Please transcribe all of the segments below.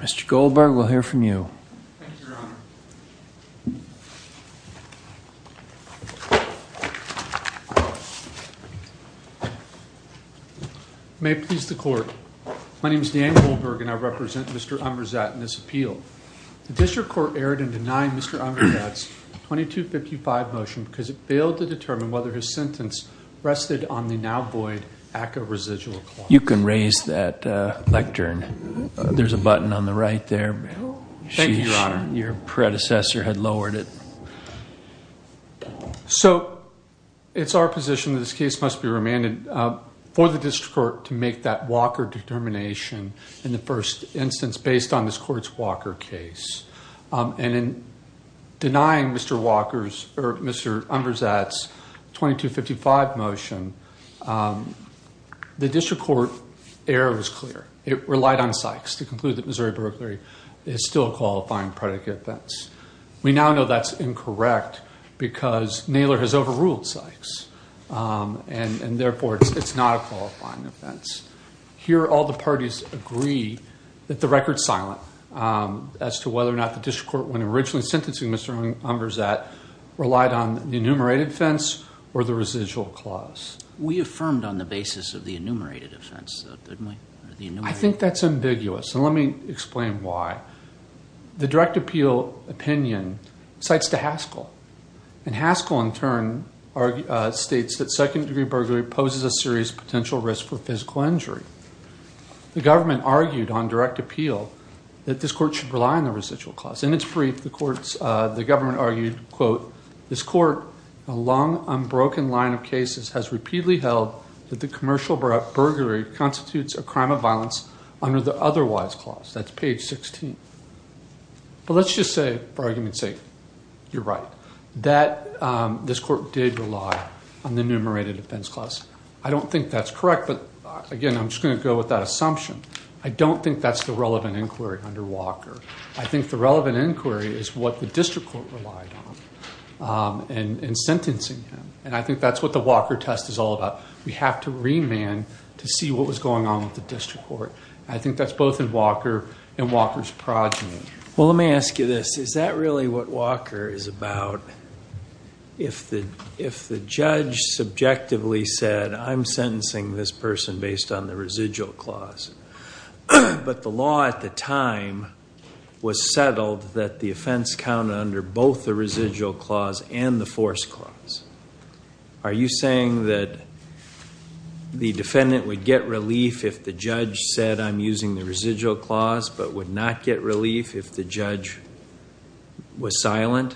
Mr. Goldberg, we'll hear from you. Thank you, Your Honor. May it please the Court, my name is Dan Goldberg and I represent Mr. Unverzagt in this appeal. The District Court erred in denying Mr. Unverzagt's 2255 motion because it failed to determine whether his sentence rested on the now void ACCA residual clause. You can raise that lectern. There's a button on the right there. Thank you, Your Honor. Your predecessor had lowered it. So it's our position that this case must be remanded for the District Court to make that Walker determination in the first instance based on this Court's Walker case. And in denying Mr. Unverzagt's 2255 motion, the District Court error was clear. It relied on Sykes to conclude that Missouri burglary is still a qualifying predicate offense. We now know that's incorrect because Naylor has overruled Sykes and therefore it's not a qualifying offense. Here all the parties agree that the record's silent as to whether or not the District Court when originally sentencing Mr. Unverzagt relied on the enumerated offense or the residual clause. We affirmed on the basis of the enumerated offense, though, didn't we? I think that's ambiguous, and let me explain why. The direct appeal opinion cites to Haskell. And Haskell in turn states that second degree burglary poses a serious potential risk for physical injury. The government argued on direct appeal that this court should rely on the residual clause. In its brief, the government argued, quote, This court, a long, unbroken line of cases, has repeatedly held that the commercial burglary constitutes a crime of violence under the otherwise clause. That's page 16. But let's just say, for argument's sake, you're right. That this court did rely on the enumerated offense clause. I don't think that's correct, but again, I'm just going to go with that assumption. I don't think that's the relevant inquiry under Walker. I think the relevant inquiry is what the district court relied on in sentencing him. And I think that's what the Walker test is all about. We have to remand to see what was going on with the district court. I think that's both in Walker and Walker's progeny. Well, let me ask you this. Is that really what Walker is about? If the judge subjectively said, I'm sentencing this person based on the residual clause. But the law at the time was settled that the offense counted under both the residual clause and the force clause. Are you saying that the defendant would get relief if the judge said, I'm using the residual clause, but would not get relief if the judge was silent?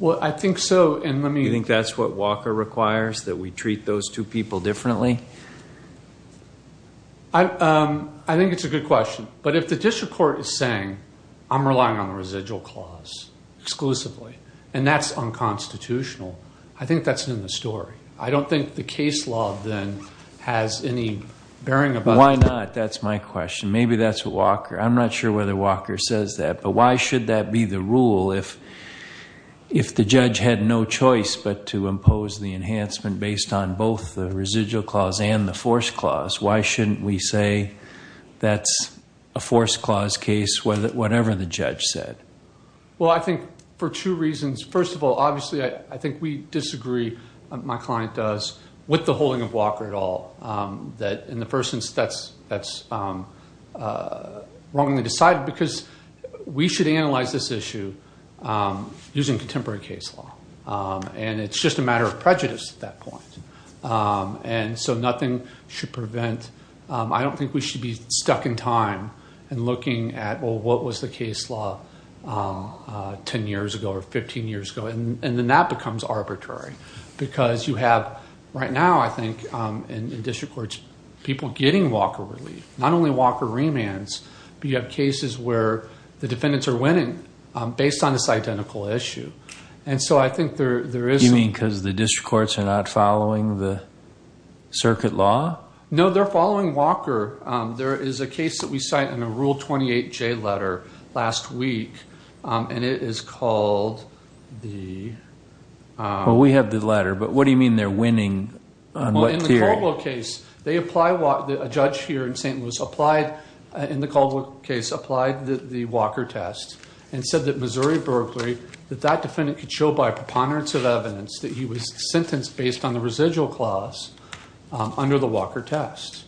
Well, I think so, and let me- You think that's what Walker requires, that we treat those two people differently? I think it's a good question. But if the district court is saying, I'm relying on the residual clause exclusively, and that's unconstitutional, I think that's in the story. I don't think the case law then has any bearing about- Why not? That's my question. Maybe that's what Walker, I'm not sure whether Walker says that. But why should that be the rule if the judge had no choice but to impose the enhancement based on both the residual clause and the force clause? Why shouldn't we say that's a force clause case, whatever the judge said? Well, I think for two reasons. First of all, obviously, I think we disagree, my client does, with the holding of Walker at all. That in the first instance, that's wrongly decided, because we should analyze this issue using contemporary case law. And it's just a matter of prejudice at that point. And so nothing should prevent, I don't think we should be stuck in time and looking at, well, what was the case law 10 years ago or 15 years ago? And then that becomes arbitrary. Because you have, right now, I think, in district courts, people getting Walker relief. Not only Walker remands, but you have cases where the defendants are winning based on this identical issue. And so I think there is- Because the district courts are not following the circuit law? No, they're following Walker. There is a case that we cite in a Rule 28J letter last week, and it is called the- Well, we have the letter, but what do you mean they're winning on what theory? Well, in the Coldwell case, a judge here in St. Louis, in the Coldwell case, applied the Walker test. And said that Missouri, Berkeley, that that defendant could show by preponderance of that he was sentenced based on the residual clause under the Walker test.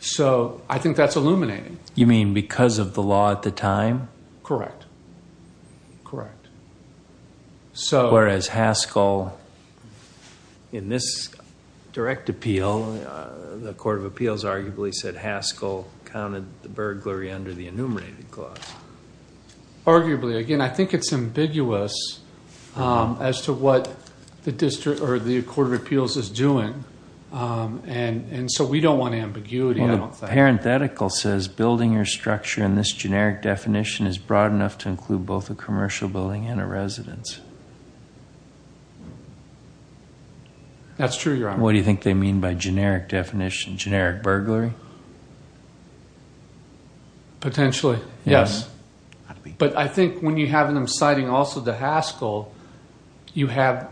So I think that's illuminating. You mean because of the law at the time? Correct. Correct. So- Whereas Haskell, in this direct appeal, the Court of Appeals arguably said Haskell counted the burglary under the enumerated clause. Arguably. Again, I think it's ambiguous as to what the District or the Court of Appeals is doing. And so we don't want ambiguity. Well, the parenthetical says building or structure in this generic definition is broad enough to include both a commercial building and a residence. That's true, Your Honor. What do you think they mean by generic definition? Generic burglary? Potentially, yes. But I think when you have them citing also the Haskell, you have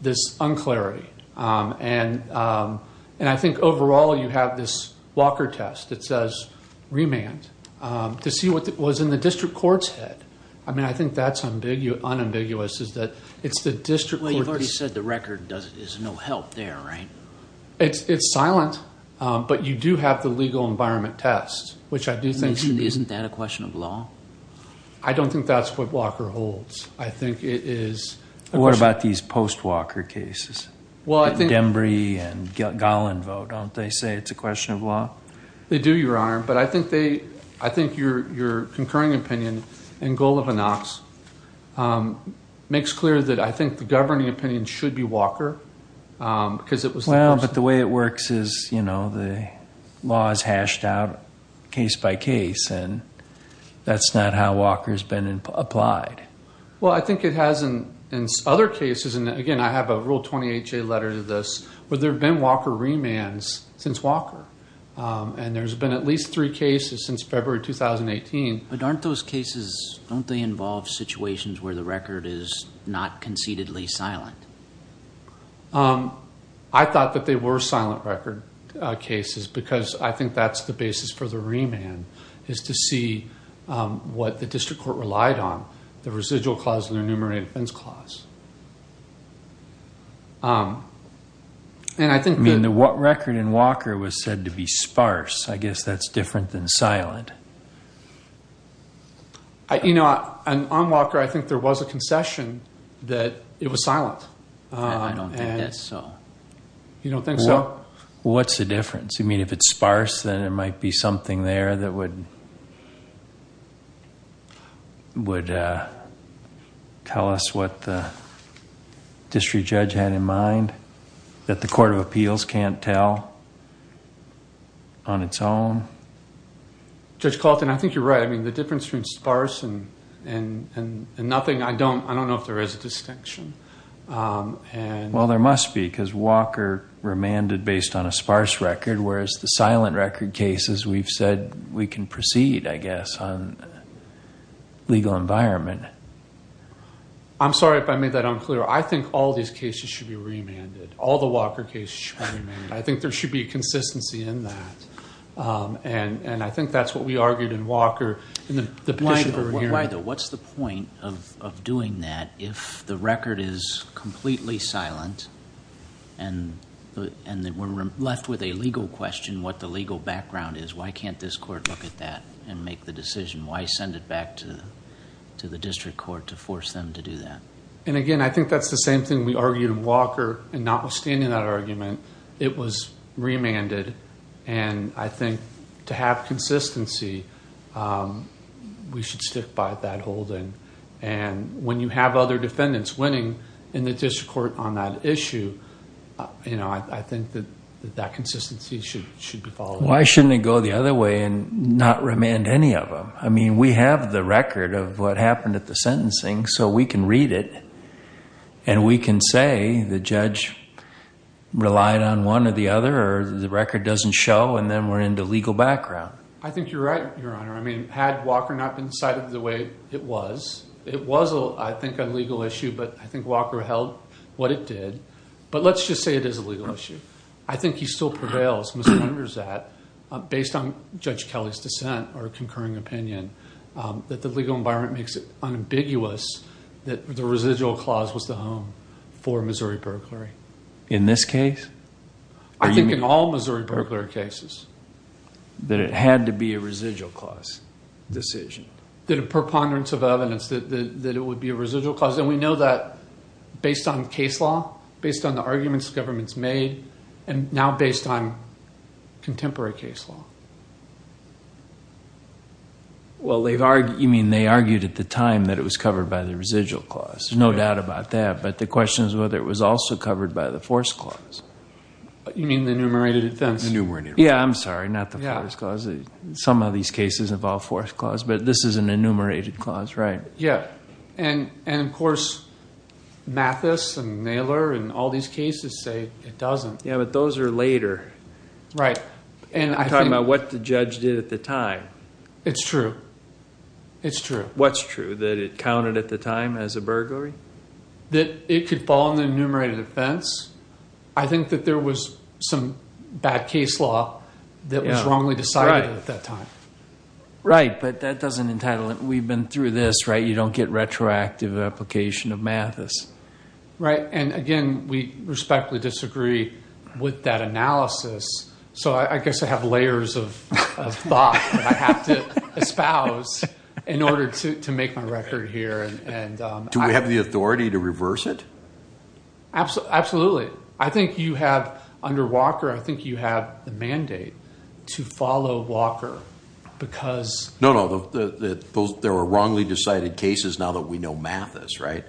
this un-clarity. And I think overall, you have this Walker test that says remand to see what was in the district court's head. I mean, I think that's unambiguous is that it's the district court- Well, you've already said the record is no help there, right? It's silent, but you do have the legal environment test, which I do think- Isn't that a question of law? I don't think that's what Walker holds. I think it is- What about these post-Walker cases? Well, I think- The Dembrey and Golan vote, don't they say it's a question of law? They do, Your Honor. But I think they, I think your concurring opinion in goal of a Knox makes clear that I think the governing opinion should be Walker because it was- Well, but the way it works is, you know, the law is hashed out case by case. And that's not how Walker's been applied. Well, I think it has in other cases. And again, I have a Rule 20HA letter to this, where there have been Walker remands since Walker. And there's been at least three cases since February, 2018. But aren't those cases, don't they involve situations where the record is not conceitedly silent? I thought that they were silent record cases, because I think that's the basis for the remand is to see what the district court relied on, the residual clause and the enumerated offense clause. And I think- I mean, the record in Walker was said to be sparse. I guess that's different than silent. You know, on Walker, I think there was a concession that it was silent. I don't think that's so. You don't think so? What's the difference? You mean, if it's sparse, then it might be something there that would tell us what the district judge had in mind, that the court of appeals can't tell on its own? Judge Calton, I think you're right. I mean, the difference between sparse and nothing, I don't know if there is a distinction. Well, there must be, because Walker remanded based on a sparse record, whereas the silent record cases, we've said we can proceed, I guess, on legal environment. I'm sorry if I made that unclear. I think all these cases should be remanded. All the Walker cases should be remanded. I think there should be a consistency in that, and I think that's what we argued in Walker, in the petition that we're hearing. What's the point of doing that if the record is completely silent, and we're left with a legal question, what the legal background is? Why can't this court look at that and make the decision? Why send it back to the district court to force them to do that? Again, I think that's the same thing we argued in Walker, and not withstanding that argument, it was remanded, and I think to have that consistency, we should stick by that hold-in, and when you have other defendants winning in the district court on that issue, I think that that consistency should be followed up. Why shouldn't it go the other way and not remand any of them? I mean, we have the record of what happened at the sentencing, so we can read it, and we can say the judge relied on one or the other, or the record doesn't show, and then we're into legal background. I think you're right, Your Honor. I mean, had Walker not been decided the way it was, it was, I think, a legal issue, but I think Walker held what it did, but let's just say it is a legal issue. I think he still prevails, Mr. Hunter's at, based on Judge Kelly's dissent or concurring opinion, that the legal environment makes it unambiguous that the residual clause was the home for Missouri burglary. In this case? I think in all Missouri burglary cases. That it had to be a residual clause decision. That a preponderance of evidence that it would be a residual clause, and we know that based on case law, based on the arguments the government's made, and now based on contemporary case law. Well, they've argued, you mean they argued at the time that it was covered by the residual clause. There's no doubt about that, but the question is whether it was also covered by the force clause. You mean the enumerated offense? Enumerated offense. Yeah. I'm sorry. Not the force clause. Some of these cases involve force clause, but this is an enumerated clause. Right. Yeah. And, and of course Mathis and Naylor and all these cases say it doesn't. Yeah, but those are later. Right. And I think- Talking about what the judge did at the time. It's true. It's true. What's true? That it counted at the time as a burglary? That it could fall in the enumerated offense. I think that there was some bad case law that was wrongly decided at that time. Right. But that doesn't entitle it. We've been through this, right? You don't get retroactive application of Mathis. Right. And again, we respectfully disagree with that analysis. So I guess I have layers of thought that I have to espouse in order to make my record here. Do we have the authority to reverse it? Absolutely. I think you have under Walker, I think you have the mandate to follow Walker because- No, no, there were wrongly decided cases now that we know Mathis. Right.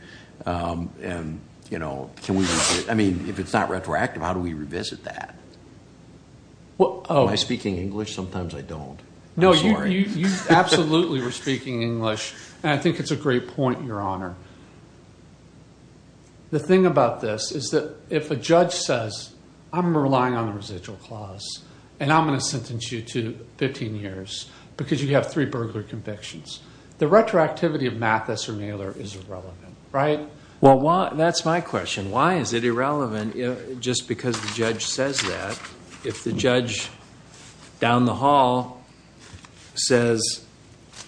And, you know, can we, I mean, if it's not retroactive, how do we revisit that? Well, am I speaking English? Sometimes I don't. No, you absolutely were speaking English. And I think it's a great point, Your Honor. The thing about this is that if a judge says, I'm relying on a residual clause and I'm going to sentence you to 15 years because you have three burglar convictions, the retroactivity of Mathis or Naylor is irrelevant, right? Well, that's my question. Why is it irrelevant? Just because the judge says that. If the judge down the hall says,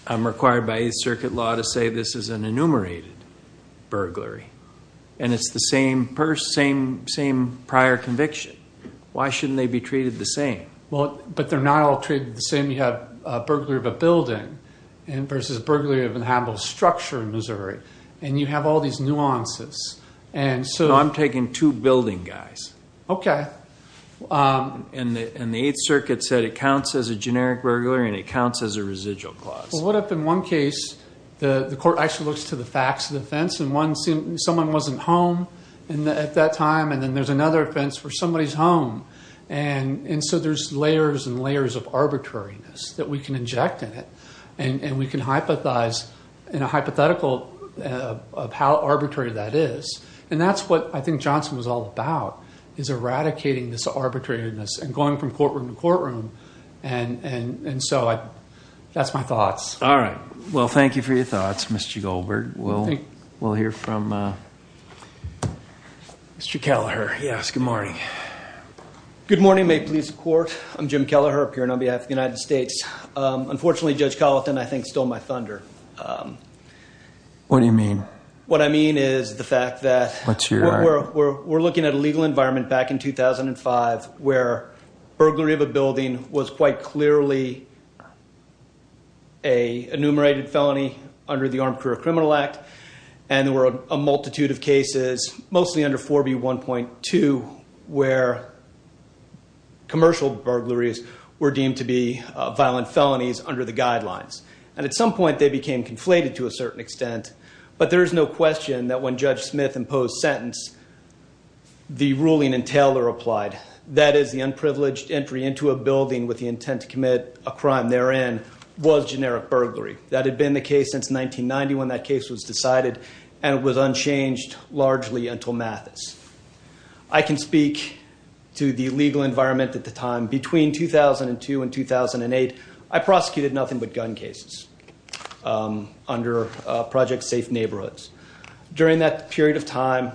I'm required by Eighth Circuit law to say this is an enumerated. Burglary. And it's the same purse, same, same prior conviction. Why shouldn't they be treated the same? Well, but they're not all treated the same. You have a burglary of a building and versus burglary of an habitable structure in Missouri. And you have all these nuances. And so- I'm taking two building guys. Okay. And the Eighth Circuit said it counts as a generic burglary and it counts as a residual clause. Well, what if in one case, the court actually looks to the facts of the offense and someone wasn't home at that time. And then there's another offense where somebody's home. And so there's layers and layers of arbitrariness that we can inject in it. And we can hypothesize in a hypothetical of how arbitrary that is. And that's what I think Johnson was all about is eradicating this arbitrariness and going from courtroom to courtroom. And, and, and so I, that's my thoughts. All right. Well, thank you for your thoughts, Mr. Goldberg. We'll, we'll hear from Mr. Kelleher. Yes. Good morning. Good morning. May it please the court. I'm Jim Kelleher, appearing on behalf of the United States. Unfortunately, Judge Colathan, I think, stole my thunder. What do you mean? What I mean is the fact that we're looking at a legal environment back in 2005, where burglary of a building was quite clearly a enumerated felony under the Armed Career Criminal Act. And there were a multitude of cases, mostly under 4B1.2, where commercial burglaries were deemed to be violent felonies under the guidelines. And at some point they became conflated to a certain extent, but there is no question that when Judge Smith imposed sentence, the ruling in Taylor applied. That is the unprivileged entry into a building with the intent to commit a crime therein was generic burglary. That had been the case since 1990 when that case was decided and it was unchanged largely until Mathis. I can speak to the legal environment at the time. Between 2002 and 2008, I prosecuted nothing but gun cases under Project Safe Neighborhoods. During that period of time,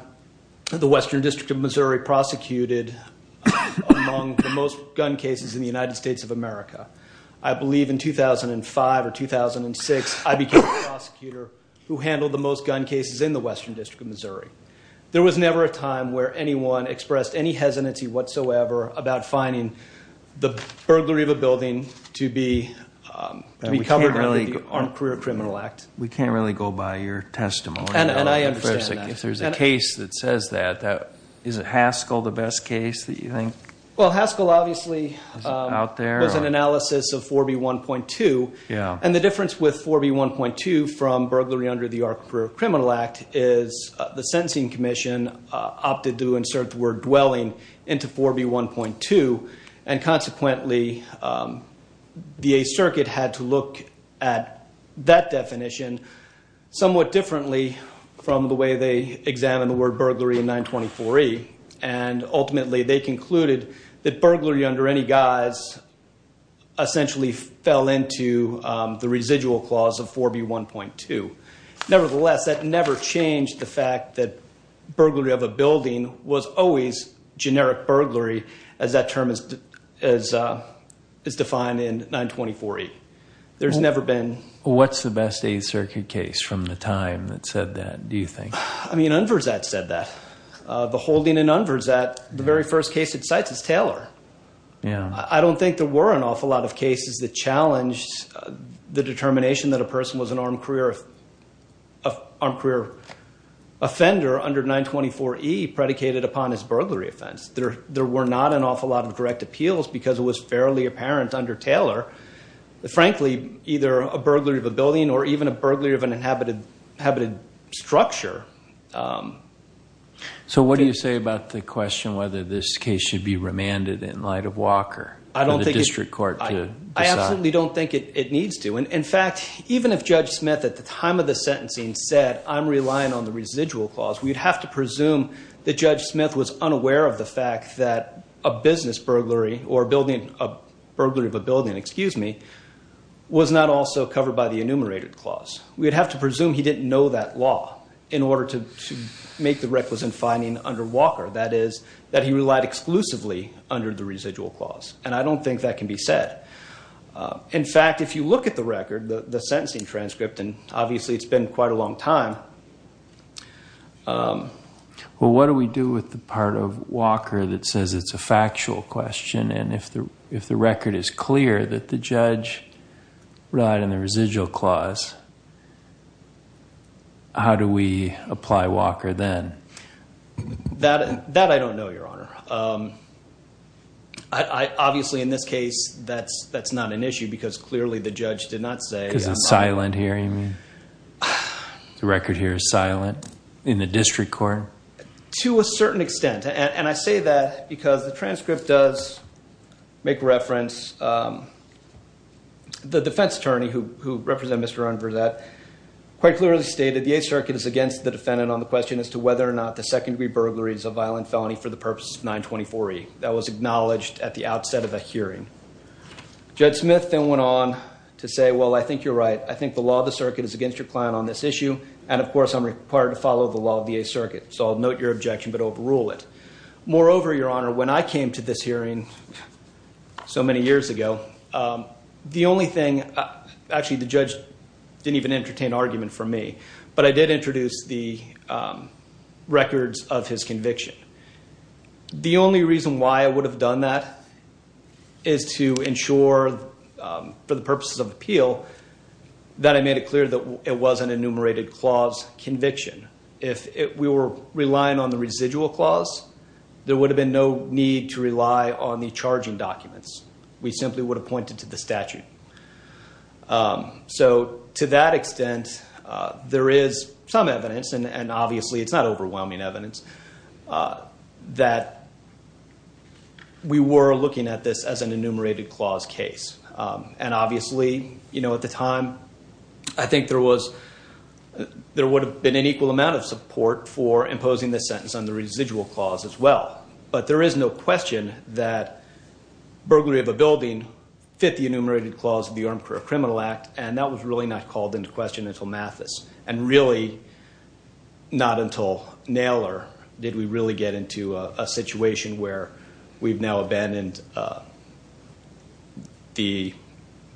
the Western District of Missouri prosecuted among the most gun cases in the United States of America. I believe in 2005 or 2006, I became a prosecutor who handled the most gun cases in the Western District of Missouri. There was never a time where anyone expressed any hesitancy whatsoever about finding the burglary of a building to be covered under the Armed Career Criminal Act. We can't really go by your testimony. And I understand that. If there's a case that says that, is it Haskell, the best case that you think? Well, Haskell obviously was an analysis of 4B1.2. And the difference with 4B1.2 from burglary under the Armed Career Criminal Act is the Sentencing Commission opted to insert the word dwelling into 4B1.2. And consequently, the Eighth Circuit had to look at that definition somewhat differently from the way they examined the word burglary in 924E. And ultimately, they concluded that burglary under any guise essentially fell into the residual clause of 4B1.2. Nevertheless, that never changed the fact that burglary of a building was always generic burglary as that term is defined in 924E. There's never been... What's the best Eighth Circuit case from the time that said that, do you think? I mean, Unverzat said that. The holding in Unverzat, the very first case it cites is Taylor. I don't think there were an awful lot of cases that challenged the determination that a person was an armed career offender under 924E predicated upon as burglary offense. There were not an awful lot of direct appeals because it was fairly apparent under Taylor, frankly, either a burglary of a building or even a burglary of an inhabited structure. So what do you say about the question whether this case should be remanded in light of Walker for the district court to decide? I absolutely don't think it needs to. And in fact, even if Judge Smith at the time of the sentencing said, I'm relying on the residual clause, we'd have to presume that Judge Smith was unaware of the fact that a business burglary or building, a burglary of a building, excuse me, was not also covered by the enumerated clause. We'd have to presume he didn't know that law in order to make the requisite finding under Walker. That is that he relied exclusively under the residual clause. And I don't think that can be said. In fact, if you look at the record, the sentencing transcript, and obviously it's been quite a long time. Well, what do we do with the part of Walker that says it's a factual question? And if the, if the record is clear that the judge relied on the residual clause, how do we apply Walker then? That, that I don't know, Your Honor. Um, I, I obviously in this case, that's, that's not an issue because clearly the judge did not say. The record here is silent. In the district court? To a certain extent. And I say that because the transcript does make reference. Um, the defense attorney who, who represent Mr. Ron Verzette quite clearly stated the Eighth Circuit is against the defendant on the question as to whether or not the second degree burglary is a violent felony for the purposes of 924E. That was acknowledged at the outset of a hearing. Judge Smith then went on to say, well, I think you're right. I think the law of the circuit is against your client on this issue. And of course, I'm required to follow the law of the Eighth Circuit. So I'll note your objection, but overrule it. Moreover, Your Honor, when I came to this hearing so many years ago, um, the only thing, actually the judge didn't even entertain argument for me, but I did introduce the, um, records of his conviction. The only reason why I would have done that is to ensure, um, for the purposes of appeal, that I made it clear that it was an enumerated clause conviction. If we were relying on the residual clause, there would have been no need to rely on the charging documents. We simply would have pointed to the statute. Um, so to that extent, uh, there is some evidence and, and obviously it's not overwhelming evidence, uh, that we were looking at this as an enumerated clause case. Um, and obviously, you know, at the time, I think there was, there would have been an equal amount of support for imposing the sentence on the residual clause as well. But there is no question that burglary of a building fit the enumerated clause of the Armed Career Criminal Act. And that was really not called into question until Mathis. And really not until Naylor did we really get into a situation where we've now abandoned, uh, the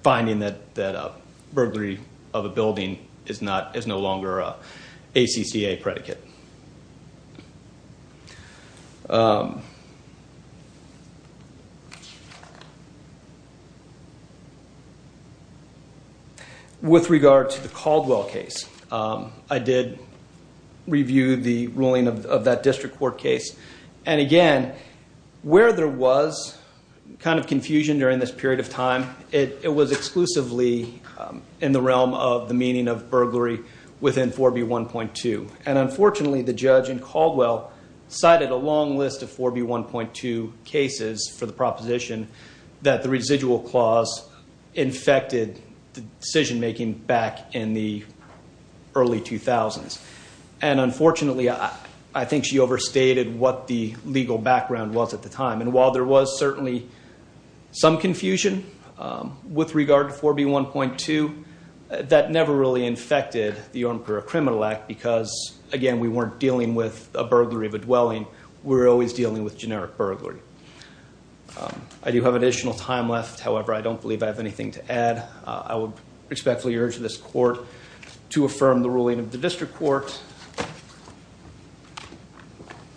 finding that, that a burglary of a building is not, is no longer a ACCA predicate. Um, with regard to the Caldwell case, um, I did review the ruling of that district court case. And again, where there was kind of confusion during this period of time, it was exclusively, um, in the realm of the meaning of burglary within 4B1.2. And unfortunately the judge in Caldwell cited a long list of 4B1.2 cases for the proposition that the residual clause infected the decision-making back in the early 2000s. And unfortunately, I think she overstated what the legal background was at the time. And while there was certainly some confusion, um, with regard to 4B1.2, that never really infected the Armed Career Criminal Act because again, we weren't dealing with a burglary of a dwelling. We're always dealing with generic burglary. Um, I do have additional time left. However, I don't believe I have anything to add. Uh, I would respectfully urge this court to affirm the ruling of the district court.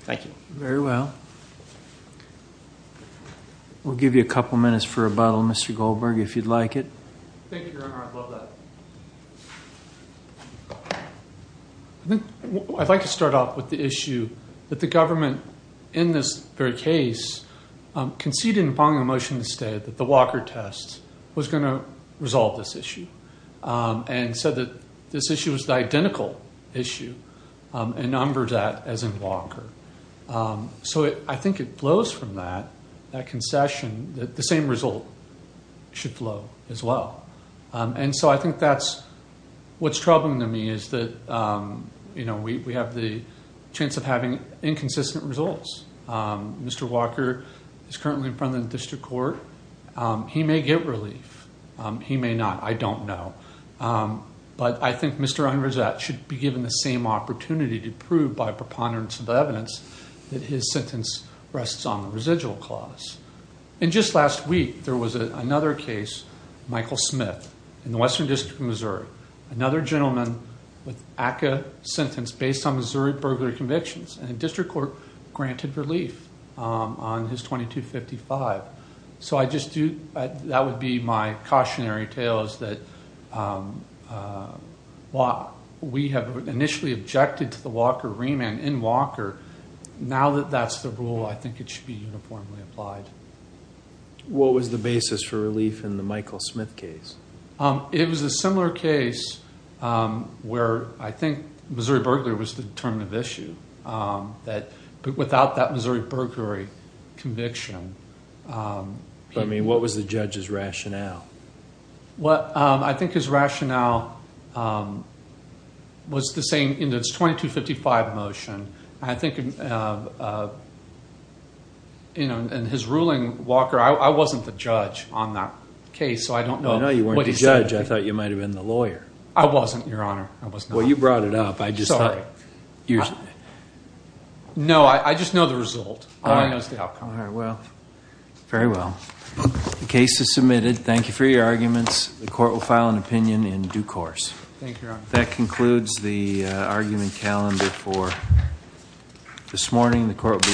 Thank you. Very well. We'll give you a couple of minutes for a bottle, Mr. Goldberg, if you'd like it. Thank you, Your Honor. I'd love that. I think I'd like to start off with the issue that the government in this very case, um, conceded upon the motion to stay that the Walker test was going to the identical issue, um, and numbered that as in Walker. Um, so I think it flows from that, that concession that the same result should flow as well. Um, and so I think that's, what's troubling to me is that, um, you know, we, we have the chance of having inconsistent results. Um, Mr. Walker is currently in front of the district court. Um, he may get relief. Um, he may not, I don't know. Um, but I think Mr. Unreset should be given the same opportunity to prove by preponderance of evidence that his sentence rests on the residual clause. And just last week, there was another case, Michael Smith in the Western district of Missouri. Another gentleman with ACCA sentence based on Missouri burglary convictions and district court granted relief, um, on his 2255. So I just do, that would be my cautionary tale is that, um, uh, while we have initially objected to the Walker remand in Walker, now that that's the rule, I think it should be uniformly applied. What was the basis for relief in the Michael Smith case? Um, it was a similar case, um, where I think Missouri burglary was the term of issue, um, that, but without that Missouri burglary conviction. Um, But I mean, what was the judge's rationale? Well, um, I think his rationale, um, was the same in this 2255 motion. I think, uh, uh, you know, and his ruling Walker, I wasn't the judge on that case. So I don't know. I know you weren't the judge. I thought you might've been the lawyer. I wasn't, Your Honor. I was not. Well, you brought it up. I just thought. You're no, I just know the result. All I know is the outcome. All right. Well, very well. The case is submitted. Thank you for your arguments. The court will file an opinion in due course. Thank you, Your Honor. That concludes the, uh, argument calendar for this morning. The court.